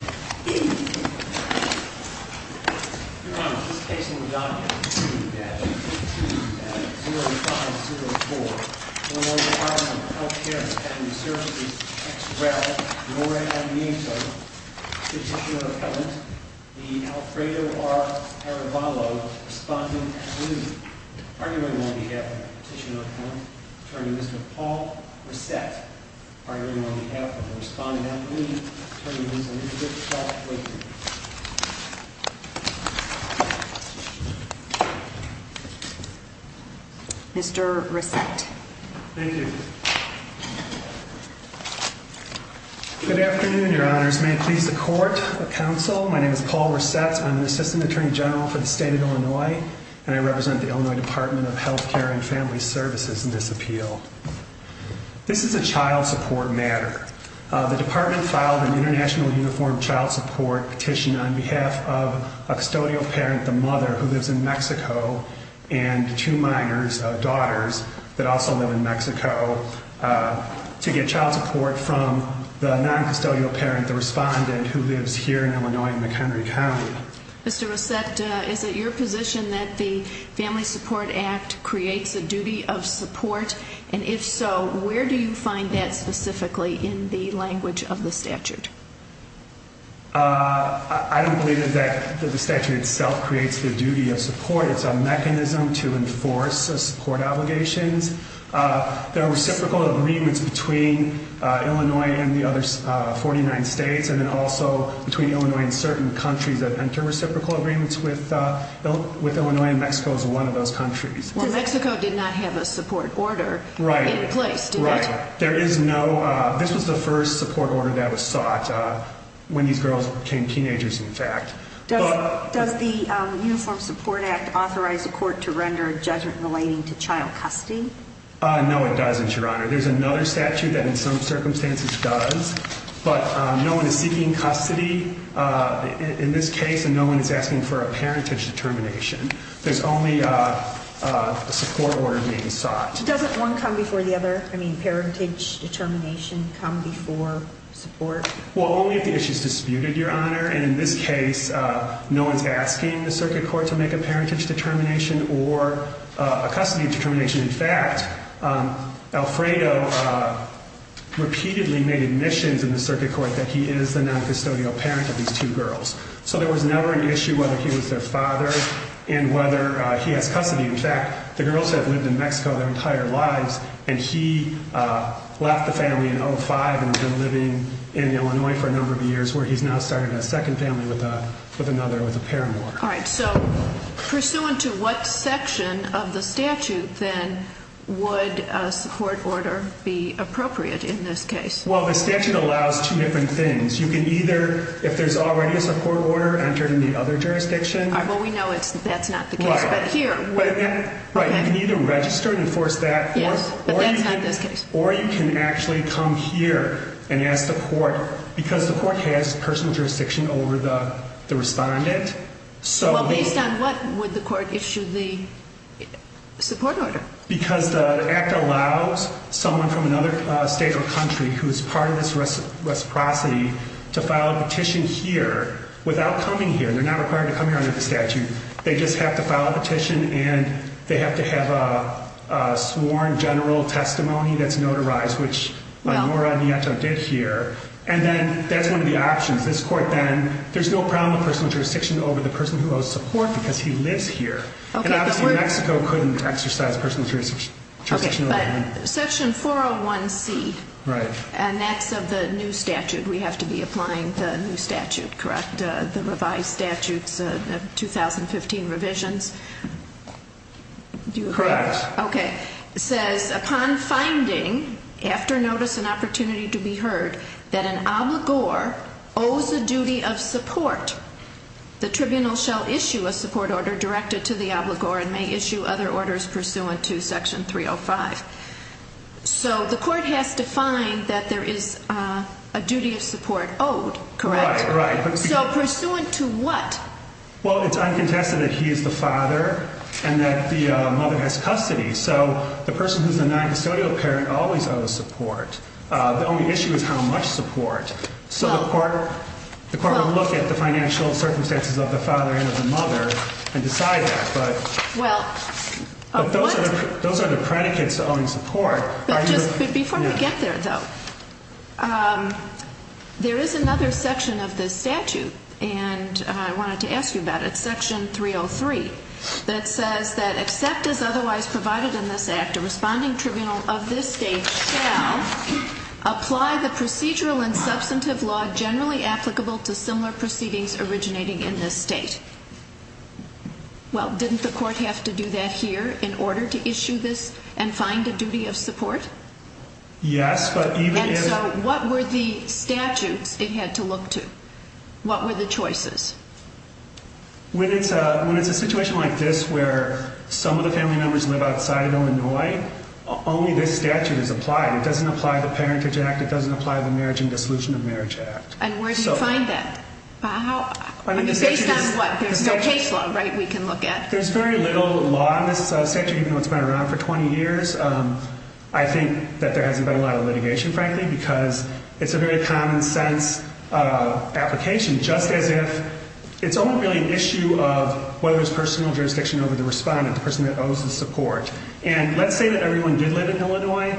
Respondent at the meeting, arguing on behalf of Petitioner Appellant, Attorney Mr. Paul Reset, arguing on behalf of the Respondent at the meeting, Attorney Mr. Paul Reset. Mr. Reset. Thank you. Good afternoon, Your Honors. May it please the Court, the Council, my name is Paul Reset, I'm an Assistant Attorney General for the State of Illinois, and I represent the Illinois Department of Healthcare and Family Services. This is a child support matter. The Department filed an International Uniform Child Support Petition on behalf of a custodial parent, the mother, who lives in Mexico, and two minors, daughters, that also live in Mexico, to get child support from the non-custodial parent, the Respondent, who lives here in Illinois in McHenry County. Mr. Reset, is it your position that the Family Support Act creates a duty of support, and if so, where do you find that specifically in the language of the statute? I don't believe that the statute itself creates the duty of support, it's a mechanism to enforce support obligations. There are reciprocal agreements between Illinois and the other 49 states, and then also between Illinois and certain countries that enter reciprocal agreements with Illinois, and Mexico is one of those countries. Well, Mexico did not have a support order in place, did it? Right, right. There is no, this was the first support order that was sought when these girls became teenagers, in fact. Does the Uniform Support Act authorize the court to render a judgment relating to child custody? No, it doesn't, Your Honor. There's another statute that in some circumstances does, but no one is seeking custody in this case, and no one is asking for a parentage determination. There's only a support order being sought. Doesn't one come before the other? I mean, parentage determination come before support? Well, only if the issue is disputed, Your Honor, and in this case, no one's asking the circuit court to make a parentage determination or a custody determination. In fact, Alfredo repeatedly made admissions in the circuit court that he is the non-custodial parent of these two girls. So there was never an issue whether he was their father and whether he has custody. In fact, the girls have lived in Mexico their entire lives, and he left the family in 2005 and has been living in Illinois for a number of years, where he's now started a second family with another, with a parent. All right, so pursuant to what section of the statute, then, would a support order be appropriate in this case? Well, the statute allows two different things. You can either, if there's already a support order entered in the other jurisdiction... Well, we know that's not the case, but here, where... Right, you can either register and enforce that, or you can actually come here and ask the court, because the court has personal jurisdiction over the respondent, so... Well, based on what would the court issue the support order? Because the act allows someone from another state or country who's part of this reciprocity to file a petition here without coming here. They're not required to come here under the statute. They just have to file a petition, and they have to have a sworn general testimony that's notarized, which Nora Nieto did here. And then that's one of the options. This court, then, there's no problem with personal jurisdiction over the person who owes support because he lives here. And obviously, Mexico couldn't exercise personal jurisdiction over anyone. Section 401C, and that's of the new statute. We have to be applying the new statute, correct? The revised statutes, the 2015 revisions? Correct. Okay. Says, upon finding, after notice and opportunity to be heard, that an obligor owes a duty of may issue other orders pursuant to section 305. So the court has to find that there is a duty of support owed, correct? Right, right. So pursuant to what? Well, it's uncontested that he is the father and that the mother has custody. So the person who's a noncustodial parent always owes support. The only issue is how much support. So the court will look at the financial circumstances of the father and of the mother and decide that. But those are the predicates to owing support. But just before we get there, though, there is another section of this statute, and I wanted to ask you about it, section 303, that says that except as otherwise provided in this act, a responding tribunal of this state shall apply the procedural and substantive law generally applicable to similar proceedings originating in this state. Well, didn't the court have to do that here in order to issue this and find a duty of support? Yes, but even if... And so what were the statutes it had to look to? What were the choices? When it's a situation like this, where some of the family members live outside of Illinois, only this statute is applied. It doesn't apply the Parentage Act. It doesn't apply the Marriage and Dissolution of Marriage Act. And where do you find that? Based on what? There's no case law, right, we can look at? There's very little law in this statute, even though it's been around for 20 years. I think that there hasn't been a lot of litigation, frankly, because it's a very common sense application, just as if it's only really an issue of whether it's personal jurisdiction over the respondent, the person that owes the support. And let's say that everyone did live in Illinois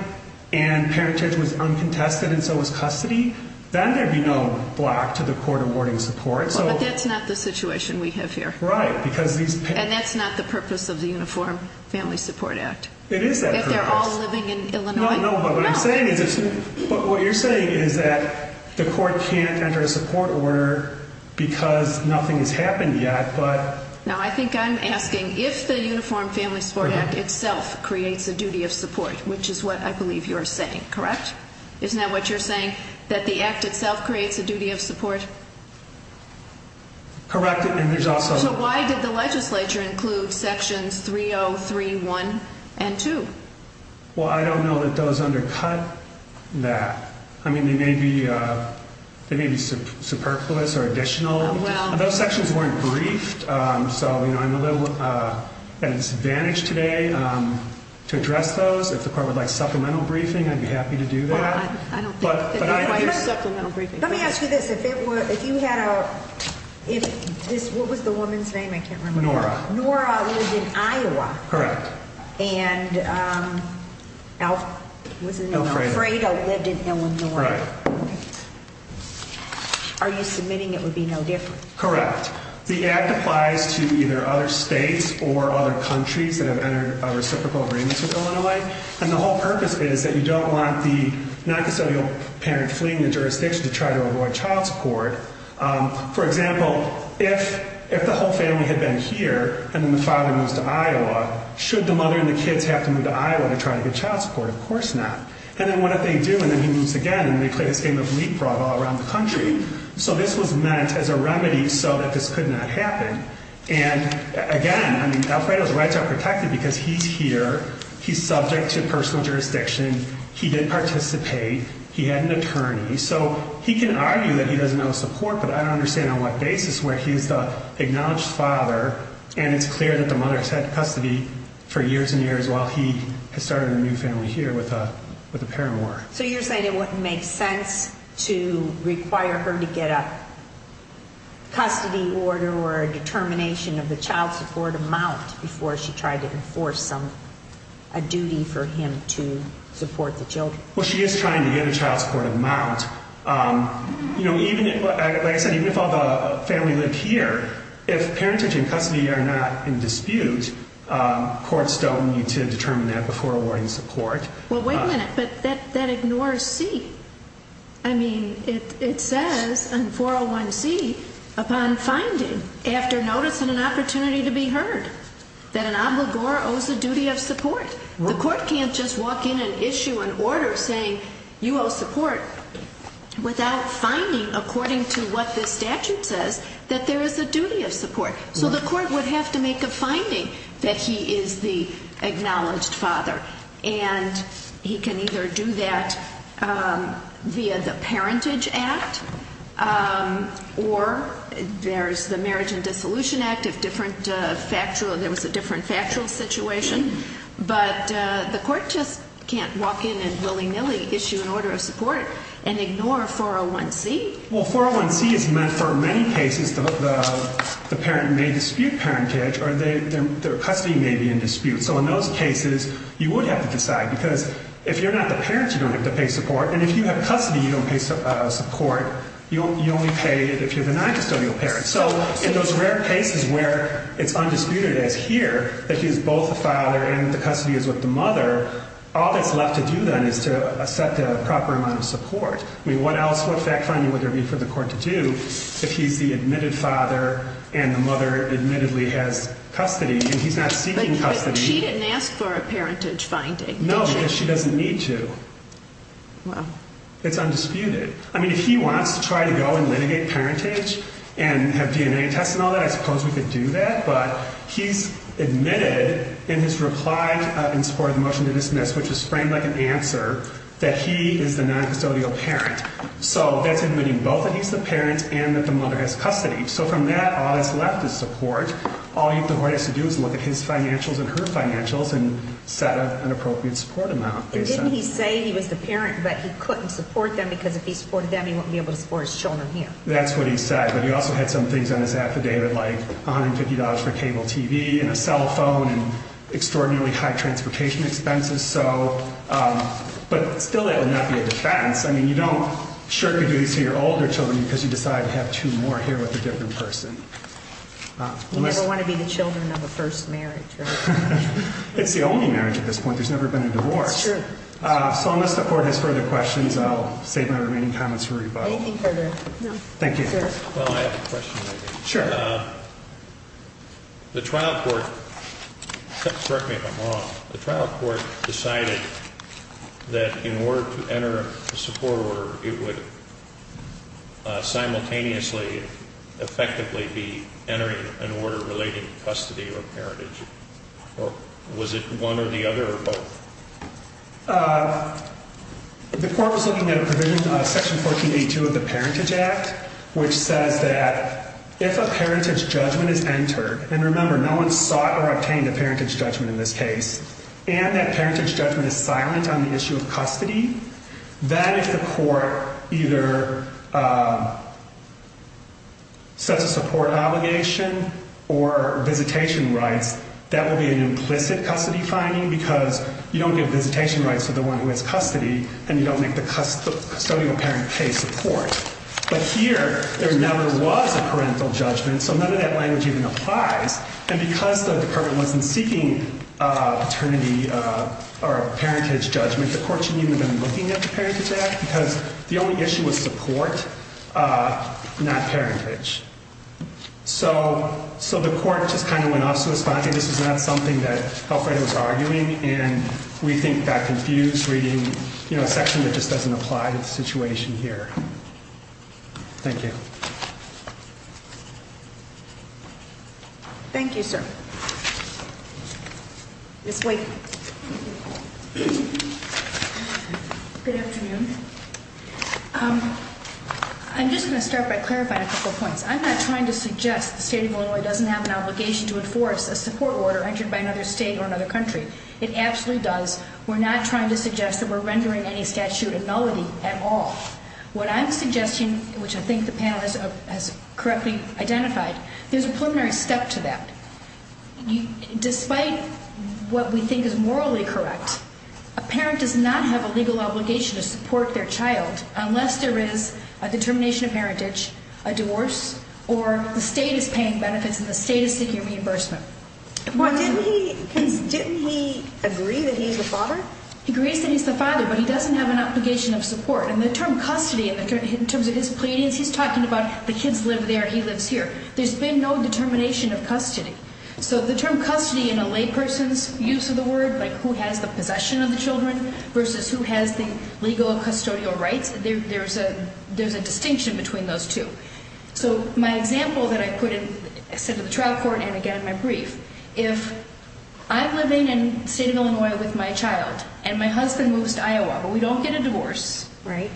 and parentage was uncontested and so was custody, then there'd be no block to the court awarding support. But that's not the situation we have here. And that's not the purpose of the Uniform Family Support Act. It is that purpose. That they're all living in Illinois. No, no, but what you're saying is that the court can't enter a support order because nothing has happened yet, but... No, I think I'm asking if the Uniform Family Support Act itself creates a duty of support, which is what I believe you're saying, correct? Correct. And there's also... So why did the legislature include sections 303.1 and 2? Well, I don't know that those undercut that. I mean, they may be superfluous or additional. Those sections weren't briefed. So, you know, I'm a little at a disadvantage today to address those. If the court would like supplemental briefing, I'd be happy to do that. But let me ask you this. If it were, if you had a, if this, what was the woman's name? I can't remember. Nora. Nora lived in Iowa. Correct. And Alfredo lived in Illinois. Are you submitting it would be no different. Correct. The act applies to either other states or other countries that have entered a reciprocal agreement with Illinois. And the whole purpose is that you don't want the non-custodial parent fleeing the jurisdiction to try to avoid child support. For example, if, if the whole family had been here and then the father moves to Iowa, should the mother and the kids have to move to Iowa to try to get child support? Of course not. And then what did they do? And then he moves again and they play this game of leapfrog all around the country. So this was meant as a remedy so that this could not happen. And again, I mean, Alfredo's rights are protected because he's here. He's subject to personal jurisdiction. He did participate. He had an attorney. So he can argue that he doesn't know support, but I don't understand on what basis where he is the acknowledged father. And it's clear that the mother has had custody for years and years while he has started a new family here with a, with a paramour. So you're saying it wouldn't make sense to require her to get a custody order or a duty for him to support the children? Well, she is trying to get a child support amount. You know, even if, like I said, even if all the family lived here, if parentage and custody are not in dispute, courts don't need to determine that before awarding support. Well, wait a minute, but that, that ignores C. I mean, it, it says in 401C, upon finding after notice and an opportunity to be heard that an obligor owes a duty of support. The court can't just walk in and issue an order saying you owe support without finding according to what the statute says that there is a duty of support. So the court would have to make a finding that he is the acknowledged father and he can either do that via the parentage act or there's the marriage and dissolution act of factual, there was a different factual situation, but the court just can't walk in and willy nilly issue an order of support and ignore 401C? Well, 401C is meant for many cases, the parent may dispute parentage or their custody may be in dispute. So in those cases, you would have to decide because if you're not the parent, you don't have to pay support. And if you have custody, you don't pay support. You only pay it if you're the noncustodial parent. So in those rare cases where it's undisputed as here that he's both the father and the custody is with the mother, all that's left to do then is to set the proper amount of support. I mean, what else, what fact finding would there be for the court to do if he's the admitted father and the mother admittedly has custody and he's not seeking custody? She didn't ask for a parentage finding. No, she doesn't need to. Well, it's undisputed. I mean, if he wants to try to go and litigate parentage and have DNA tests and all that, I suppose we could do that. But he's admitted in his reply in support of the motion to dismiss, which is framed like an answer that he is the noncustodial parent. So that's admitting both that he's the parent and that the mother has custody. So from that, all that's left is support. All the court has to do is look at his financials and her financials and set up an appropriate support amount. And didn't he say he was the parent, but he couldn't support them because if he supported them, he wouldn't be able to support his children here. That's what he said. But he also had some things on his affidavit, like $150 for cable TV and a cell phone and extraordinarily high transportation expenses. So, um, but still that would not be a defense. I mean, you don't sure could do this to your older children because you decide to have two more here with a different person. You never want to be the children of a first marriage. It's the only marriage at this point. There's never been a divorce. So unless the court has further questions, I'll save my remaining comments for rebuttal. Anything further? Thank you. Well, I have a question. The trial court, correct me if I'm wrong. The trial court decided that in order to enter a support order, it would simultaneously effectively be entering an order relating to custody or parentage. Or was it one or the other? Uh, the court was looking at a provision, uh, section 1482 of the Parentage Act, which says that if a parentage judgment is entered, and remember, no one sought or obtained a parentage judgment in this case, and that parentage judgment is silent on the issue of custody, that if the court either, uh, sets a support obligation or visitation rights, that would be an implicit custody finding, because you don't give visitation rights to the one who has custody, and you don't make the custodial parent pay support. But here, there never was a parental judgment, so none of that language even applies. And because the department wasn't seeking, uh, paternity, uh, or parentage judgment, the court shouldn't even have been looking at the Parentage Act, because the only issue was support, uh, not parentage. So, so the court just kind of went off to a spot, and this is not something that Alfred was arguing, and we think that confused reading, you know, a section that just doesn't apply to the situation here. Thank you. Thank you, sir. Yes, wait. Good afternoon. Um, I'm just going to start by clarifying a couple of points. I'm not trying to suggest the state of Illinois doesn't have an obligation to enforce a support order entered by another state or another country. It absolutely does. We're not trying to suggest that we're rendering any statute a nullity at all. What I'm suggesting, which I think the panel has, uh, has correctly identified, there's a preliminary step to that. Despite what we think is morally correct, a parent does not have a legal obligation to support their child unless there is a determination of parentage, a divorce, or the state is paying benefits and the state is seeking reimbursement. Didn't he agree that he's the father? He agrees that he's the father, but he doesn't have an obligation of support, and the term custody, in terms of his pleadings, he's talking about the kids live there, he lives here. There's been no determination of custody. So the term custody in a lay person's use of the word, like who has the possession of the children versus who has the legal custodial rights, there, there's a, there's a distinction between those two. So my example that I put in, I said to the trial court, and again, my brief, if I'm living in the state of Illinois with my child and my husband moves to Iowa, but we don't get a divorce, right?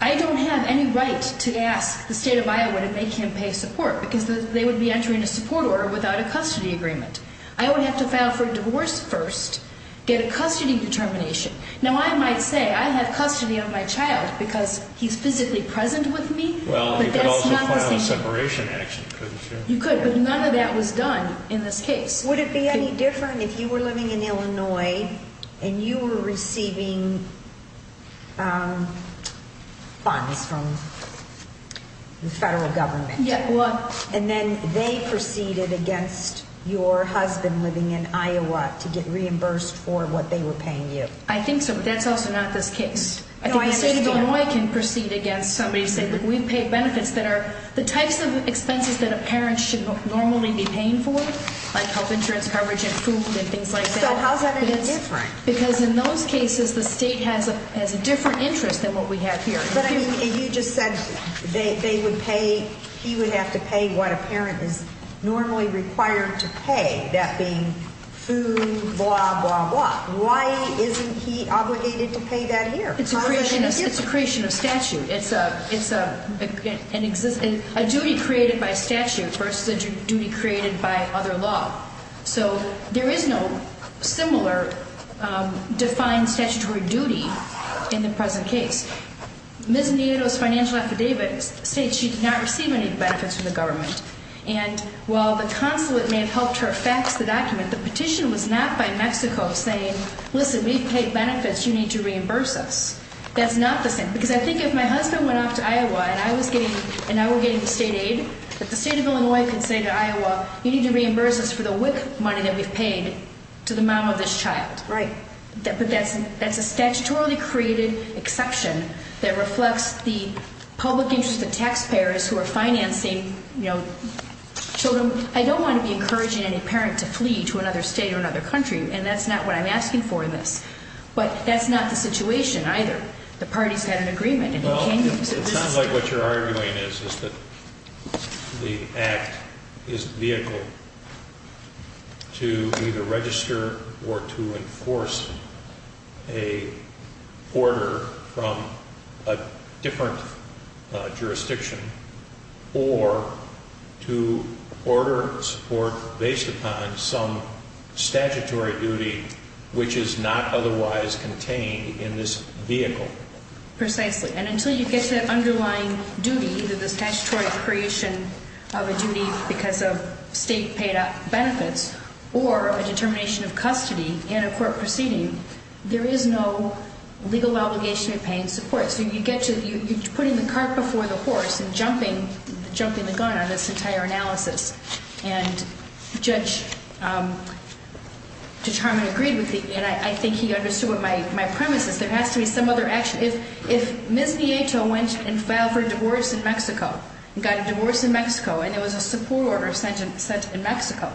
I don't have any right to ask the state of Iowa to make him pay support because they would be entering a support order without a custody agreement. I would have to file for a divorce first, get a custody determination. Now I might say I have custody of my child because he's physically present with me, but that's not the same thing. Well, you could also file a separation action, couldn't you? You could, but none of that was done in this case. Would it be any different if you were living in Illinois and you were receiving funds from the federal government? Yeah, well. And then they proceeded against your husband living in Iowa to get reimbursed for what they were paying you. I think so, but that's also not this case. I think the state of Illinois can proceed against somebody saying, look, we've paid benefits that are the types of expenses that a parent should normally be paying for, like health insurance coverage and food and things like that. So how's that any different? Because in those cases, the state has a, has a different interest than what we have here. But I mean, you just said they would pay, he would have to pay what a parent is normally required to pay, that being food, blah, blah, blah. Why isn't he obligated to pay that here? It's a creation of statute. It's a, it's a, an existing, a duty created by statute versus a duty created by other law. So there is no similar defined statutory duty in the present case. Ms. Nuno's financial affidavit states she did not receive any benefits from the government. And while the consulate may have helped her fax the document, the petition was not by Mexico saying, listen, we've paid benefits, you need to reimburse us. That's not the same. Because I think if my husband went off to Iowa and I was getting, and I were getting the state aid, that the state of Illinois could say to Iowa, you need to reimburse us for the WIC money that we've paid to the mom of this child. Right. But that's, that's a statutorily created exception that reflects the public interest of taxpayers who are financing, you know, children. I don't want to be encouraging any parent to flee to another state or another country. And that's not what I'm asking for in this. But that's not the situation either. The parties had an agreement. It sounds like what you're arguing is, is that the act is vehicle to either register or to enforce a order from a different jurisdiction or to order support based upon some statutory duty, which is not otherwise contained in this vehicle. Precisely. And until you get to that underlying duty, that the statutory creation of a duty because of state paid benefits or a determination of custody in a court proceeding, there is no legal obligation of paying support. So you get to, you're putting the cart before the horse and jumping, jumping the gun on this entire analysis. And Judge Harmon agreed with me. And I think he understood what my premise is. There has to be some other action. If, if Ms. Nieto went and filed for divorce in Mexico and got a divorce in Mexico, and there was a support order sent in, sent in Mexico,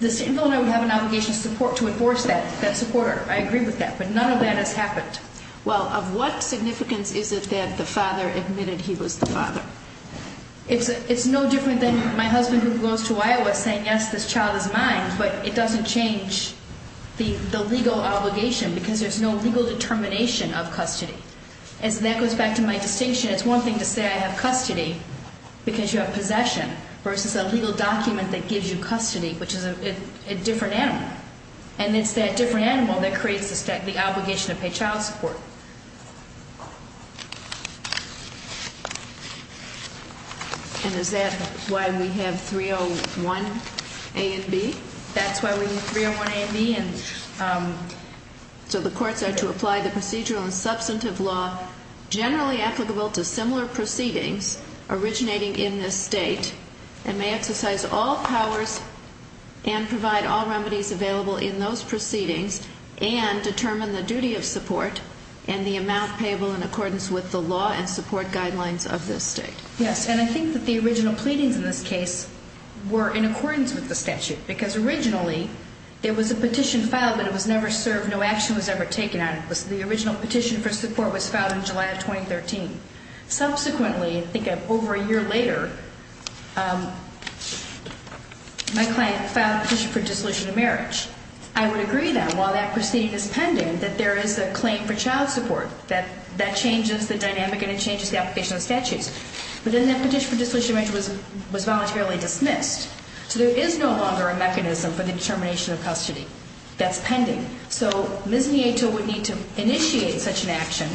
the state and governor would have an obligation to support, to enforce that, that supporter. I agree with that. But none of that has happened. Well, of what significance is it that the father admitted he was the father? It's, it's no different than my husband who goes to Iowa saying, yes, this child is mine, but it doesn't change the, the legal obligation because there's no legal determination of custody. As that goes back to my distinction, it's one thing to say I have custody because you have possession versus a legal document that gives you custody, which is a different animal. And it's that different animal that creates the obligation to pay child support. And is that why we have 301 A and B? That's why we have 301 A and B and, so the courts are to apply the procedural and substantive law generally applicable to similar proceedings originating in this state and may exercise all powers and provide all remedies available in those proceedings and determine the duty of support and the amount payable in accordance with the law and support guidelines of this state. Yes. And I think that the original pleadings in this case were in accordance with the statute because originally there was a petition filed, but it was never served. No action was ever taken on it. The original petition for support was filed in July of 2013. Subsequently, I think over a year later, my client filed a petition for dissolution of marriage. I would agree that while that proceeding is pending, that there is a claim for child support that that changes the dynamic and it changes the application of statutes. But then that petition for dissolution of marriage was voluntarily dismissed. So there is no longer a mechanism for the determination of custody that's pending. So Ms. Nieto would need to initiate such an action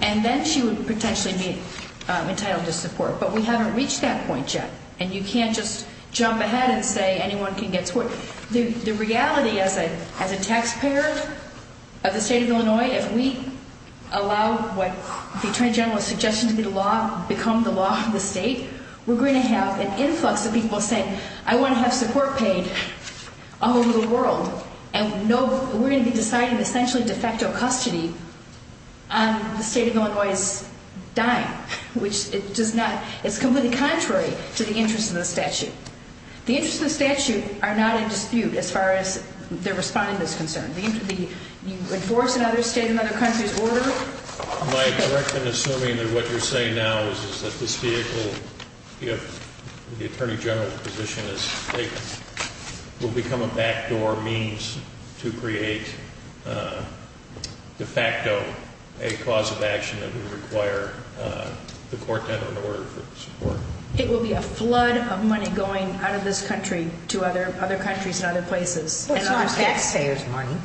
and then she would potentially be entitled to support. But we haven't reached that point yet. And you can't just jump ahead and say anyone can get support. The reality as a taxpayer of the state of Illinois, if we allow what the attorney general is suggesting to become the law of the state, we're going to have an influx of people saying I want to have support paid all over the world. And we're going to be deciding essentially de facto custody on the state of Illinois's dime, which it's completely contrary to the interest of the statute. The interest of the statute are not in dispute as far as they're responding to this concern. The interest would be you enforce another state, another country's order. Am I correct in assuming that what you're saying now is that this vehicle, if the attorney general's position is taken, will become a backdoor means to create de facto a cause of action that would require the court to have an order for support? It will be a flood of money going out of this country to other countries and other places. Well, it's not taxpayers' money.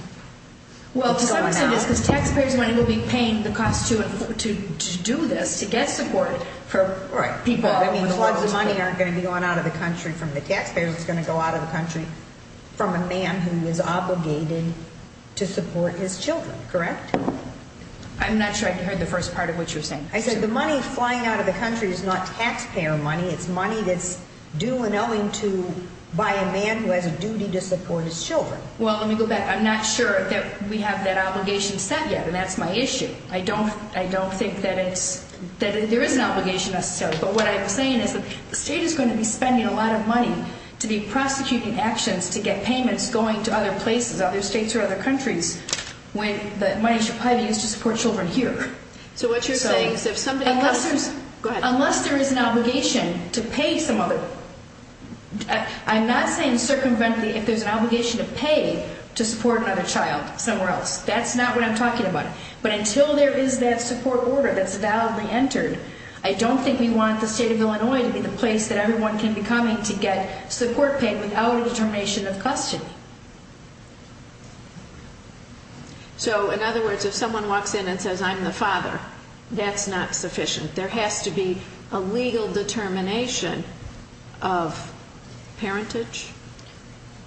Well, some say it is because taxpayers' money will be paying the cost to do this, to get support for people. I mean, the floods of money aren't going to be going out of the country from the taxpayers. It's going to go out of the country from a man who is obligated to support his children. Correct? I'm not sure I heard the first part of what you're saying. I said the money flying out of the country is not taxpayer money. It's money that's due and owing to by a man who has a duty to support his children. Well, let me go back. I'm not sure that we have that obligation set yet, and that's my issue. I don't think that there is an obligation necessarily. But what I'm saying is that the state is going to be spending a lot of money to be prosecuting actions to get payments going to other places, other states or other countries, when the money should probably be used to support children here. So what you're saying is if somebody... Unless there's... Go ahead. Unless there is an obligation to pay some other... I'm not saying circumvent the... If there's an obligation to pay to support another child somewhere else, that's not what I'm talking about. But until there is that support order that's validly entered, I don't think we want the state of Illinois to be the place that everyone can be coming to get support paid without a determination of custody. So, in other words, if someone walks in and says, I'm the father, that's not sufficient. There has to be a legal determination of parentage?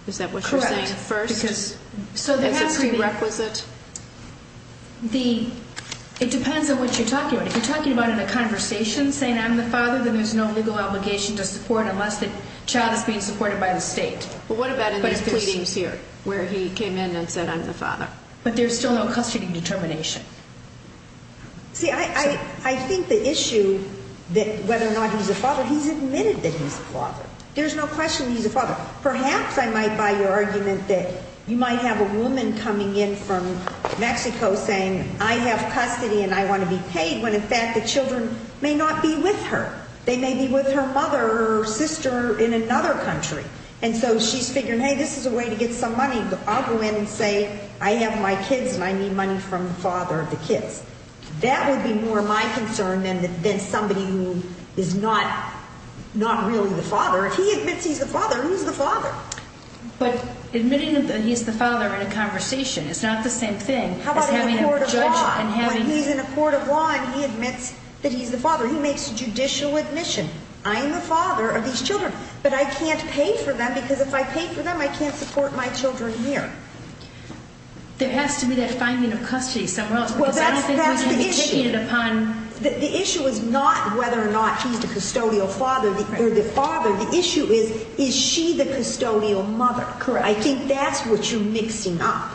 Is that what you're saying? Correct. First... Because... So there has to be... Is it prerequisite? The... It depends on what you're talking about. If you're talking about in a conversation saying, I'm the father, then there's no legal But what about in this case? But if pleading not to support... Where he came in and said, I'm the father. But there's still no custody determination. See, I think the issue that whether or not he's a father, he's admitted that he's a father. There's no question he's a father. Perhaps I might buy your argument that you might have a woman coming in from Mexico saying, I have custody and I want to be paid, when in fact the children may not be with her. They may be with her mother or sister in another country. And so she's figuring, hey, this is a way to get some money. I'll go in and say, I have my kids and I need money from the father of the kids. That would be more my concern than somebody who is not really the father. If he admits he's the father, who's the father? But admitting that he's the father in a conversation is not the same thing as having a judge and... How about in a court of law? But he's in a court of law and he admits that he's the father. He makes judicial admission. I am the father of these children, but I can't pay for them because if I pay for them, I can't support my children here. There has to be that finding of custody somewhere else. The issue is not whether or not he's the custodial father or the father. The issue is, is she the custodial mother? I think that's what you're mixing up.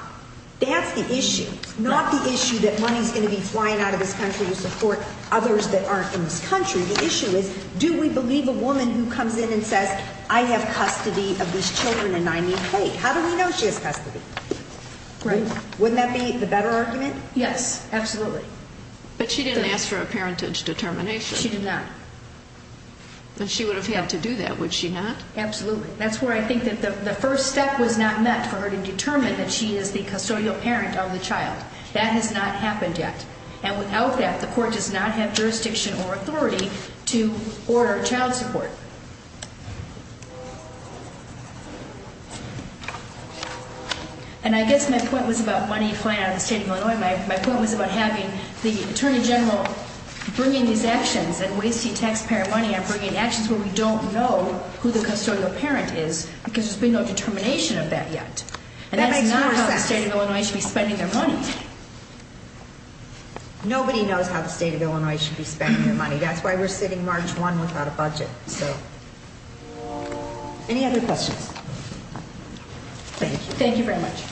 That's the issue. Not the issue that money's going to be flying out of this country to support others that aren't in this country. The issue is, do we believe a woman who comes in and says, I have custody of these children and I need pay? How do we know she has custody? Wouldn't that be the better argument? Yes, absolutely. But she didn't ask for a parentage determination. She did not. But she would have had to do that, would she not? Absolutely. That's where I think that the first step was not met for her to determine that she is the custodial parent of the child. That has not happened yet. And without that, the court does not have jurisdiction or authority to order child support. And I guess my point was about money flying out of the state of Illinois. My point was about having the Attorney General bringing these actions and wasting taxpayer money on bringing actions where we don't know who the custodial parent is because there's been no determination of that yet. And that's not how the state of Illinois should be spending their money. Nobody knows how the state of Illinois should be spending their money. That's why we're sitting March 1 without a budget. So any other questions? Thank you very much.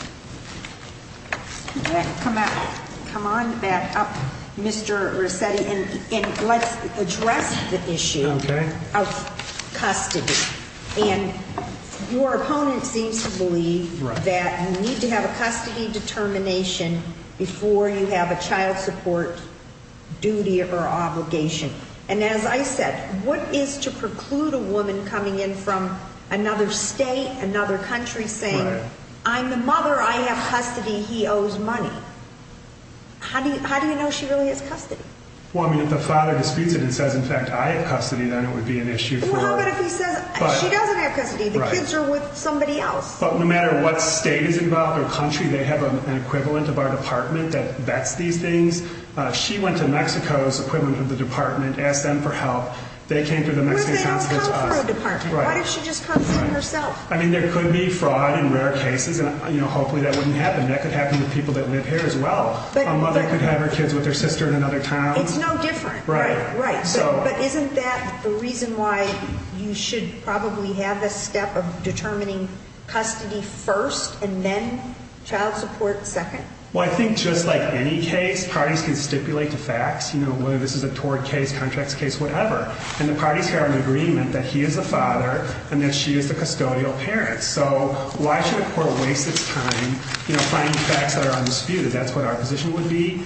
Come on back up, Mr. Rossetti, and let's address the issue of custody. And your opponent seems to believe that you need to have a custody determination before you have a child support duty or obligation. And as I said, what is to preclude a woman coming in from another state, another country saying, I'm the mother. I have custody. He owes money. How do you know she really has custody? Well, I mean, if the father disputes it and says, in fact, I have custody, then it would be an issue. She doesn't have custody. The kids are with somebody else. But no matter what state is involved or country, they have an equivalent of our department that vets these things. She went to Mexico's equivalent of the department, asked them for help. They came through the Mexican consulate to us. But they don't come through a department. Why does she just come through herself? I mean, there could be fraud in rare cases. And hopefully that wouldn't happen. That could happen to people that live here as well. A mother could have her kids with her sister in another town. It's no different. Right. Right. But isn't that the reason why you should probably have a step of determining custody first and then child support second? Well, I think just like any case, parties can stipulate the facts, whether this is a tort case, contracts case, whatever. And the parties have an agreement that he is the father and that she is the custodial parent. So why should a court waste its time finding facts that are undisputed? That's what our position would be.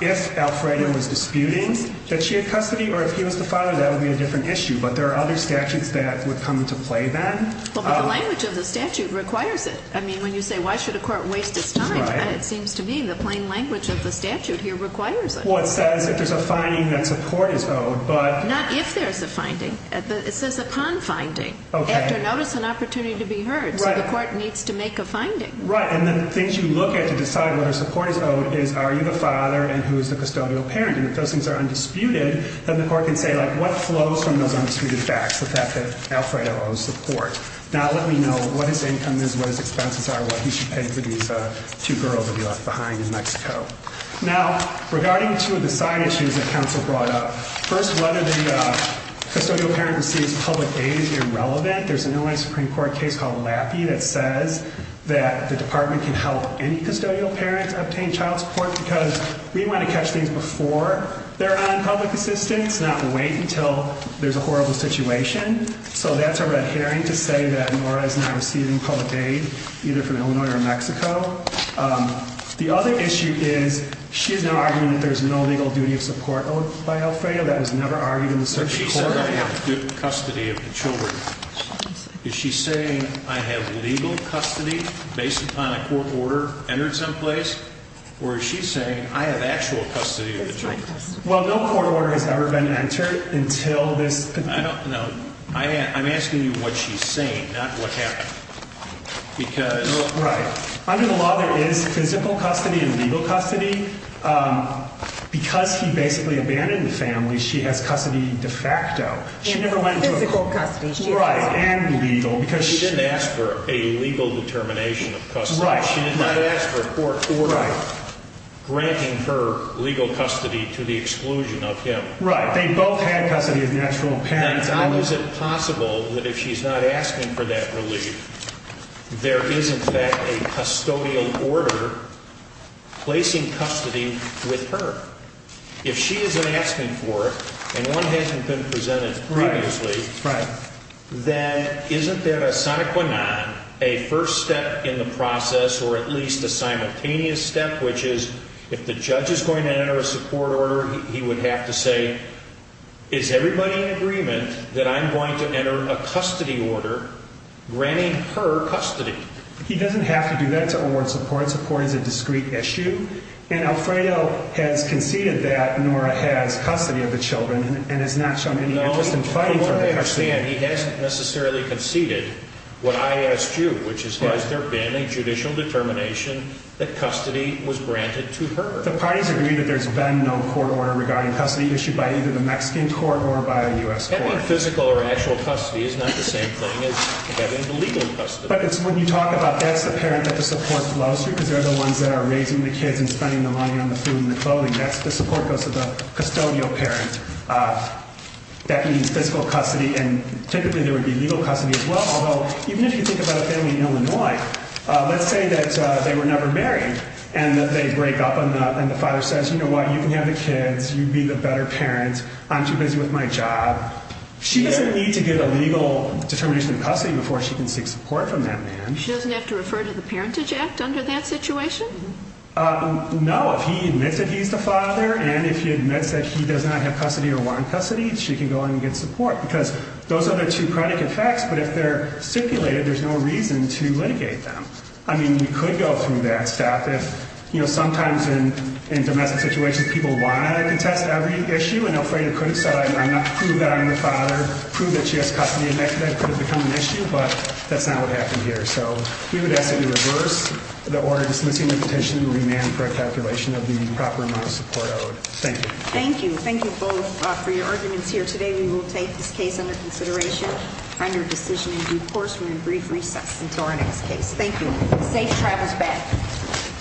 If Alfredo was disputing that she had custody or if he was the father, that would be a different issue. But there are other statutes that would come into play then. But the language of the statute requires it. When you say, why should a court waste its time? It seems to me the plain language of the statute here requires it. Well, it says if there's a finding that support is owed, but- Not if there's a finding. It says upon finding, after notice and opportunity to be heard. So the court needs to make a finding. Right. And the things you look at to decide whether support is owed is, are you the father and who is the custodial parent? And if those things are undisputed, then the court can say, what flows from those undisputed facts? The fact that Alfredo owes support? Now, let me know what his income is, what his expenses are, what he should pay for these two girls that he left behind in Mexico. Now, regarding two of the side issues that counsel brought up. First, whether the custodial parent receives public aid is irrelevant. There's an Illinois Supreme Court case called Laffey that says that the department can help any custodial parents obtain child support because we want to catch things before they're on public assistance, not wait until there's a horrible situation. So that's a red herring to say that Nora is not receiving public aid, either from Illinois or Mexico. The other issue is she's now arguing that there's no legal duty of support owed by Alfredo that was never argued in the search. She said I have good custody of the children. Is she saying I have legal custody based upon a court order entered someplace? Or is she saying I have actual custody of the children? Well, no court order has ever been entered until this. I don't know. I'm asking you what she's saying, not what happened. Because right under the law, there is physical custody and legal custody because he basically abandoned the family. She has custody de facto. She never went to physical custody, right? And legal because she didn't ask for a legal determination of custody. She did not ask for a court order granting her legal custody to the exclusion of him. Right. They both had custody of the actual parents. How is it possible that if she's not asking for that relief, there is in fact a custodial order placing custody with her? If she isn't asking for it and one hasn't been presented previously, right, then isn't there a sonic one on a first step in the process or at least a simultaneous step, which is if the judge is going to enter a support order, he would have to say, is everybody in agreement that I'm going to enter a custody order granting her custody? He doesn't have to do that to award support. Support is a discrete issue. And Alfredo has conceded that Nora has custody of the children and has not shown any interest in fighting for custody. He hasn't necessarily conceded what I asked you, which is, has there been a judicial determination that custody was granted to her? The parties agree that there's been no court order regarding custody issued by either the Mexican court or by a U.S. court. Having physical or actual custody is not the same thing as having legal custody. But it's when you talk about that's the parent that the support flows through because they're the ones that are raising the kids and spending the money on the food and the clothing. That's the support goes to the custodial parent. That means physical custody. And typically there would be legal custody as well. Even if you think about a family in Illinois, let's say that they were never married and that they break up and the father says, you know what, you can have the kids. You'd be the better parent. I'm too busy with my job. She doesn't need to get a legal determination of custody before she can seek support from that man. She doesn't have to refer to the Parentage Act under that situation? No, if he admits that he's the father and if he admits that he does not have custody or want custody, she can go and get support because those are the two predicate facts. But if they're stipulated, there's no reason to litigate them. I mean, we could go through that stuff. If you know, sometimes in domestic situations, people want to contest every issue and afraid it could have said, I'm not sure that I'm the father, prove that she has custody and that could have become an issue. But that's not what happened here. So we would ask that you reverse the order dismissing the petition and remand for a calculation of the proper amount of support owed. Thank you. Thank you. Thank you both for your arguments here today. We will take this case under consideration on your decision in due course. We're in brief recess until our next case. Thank you. Safe travels back.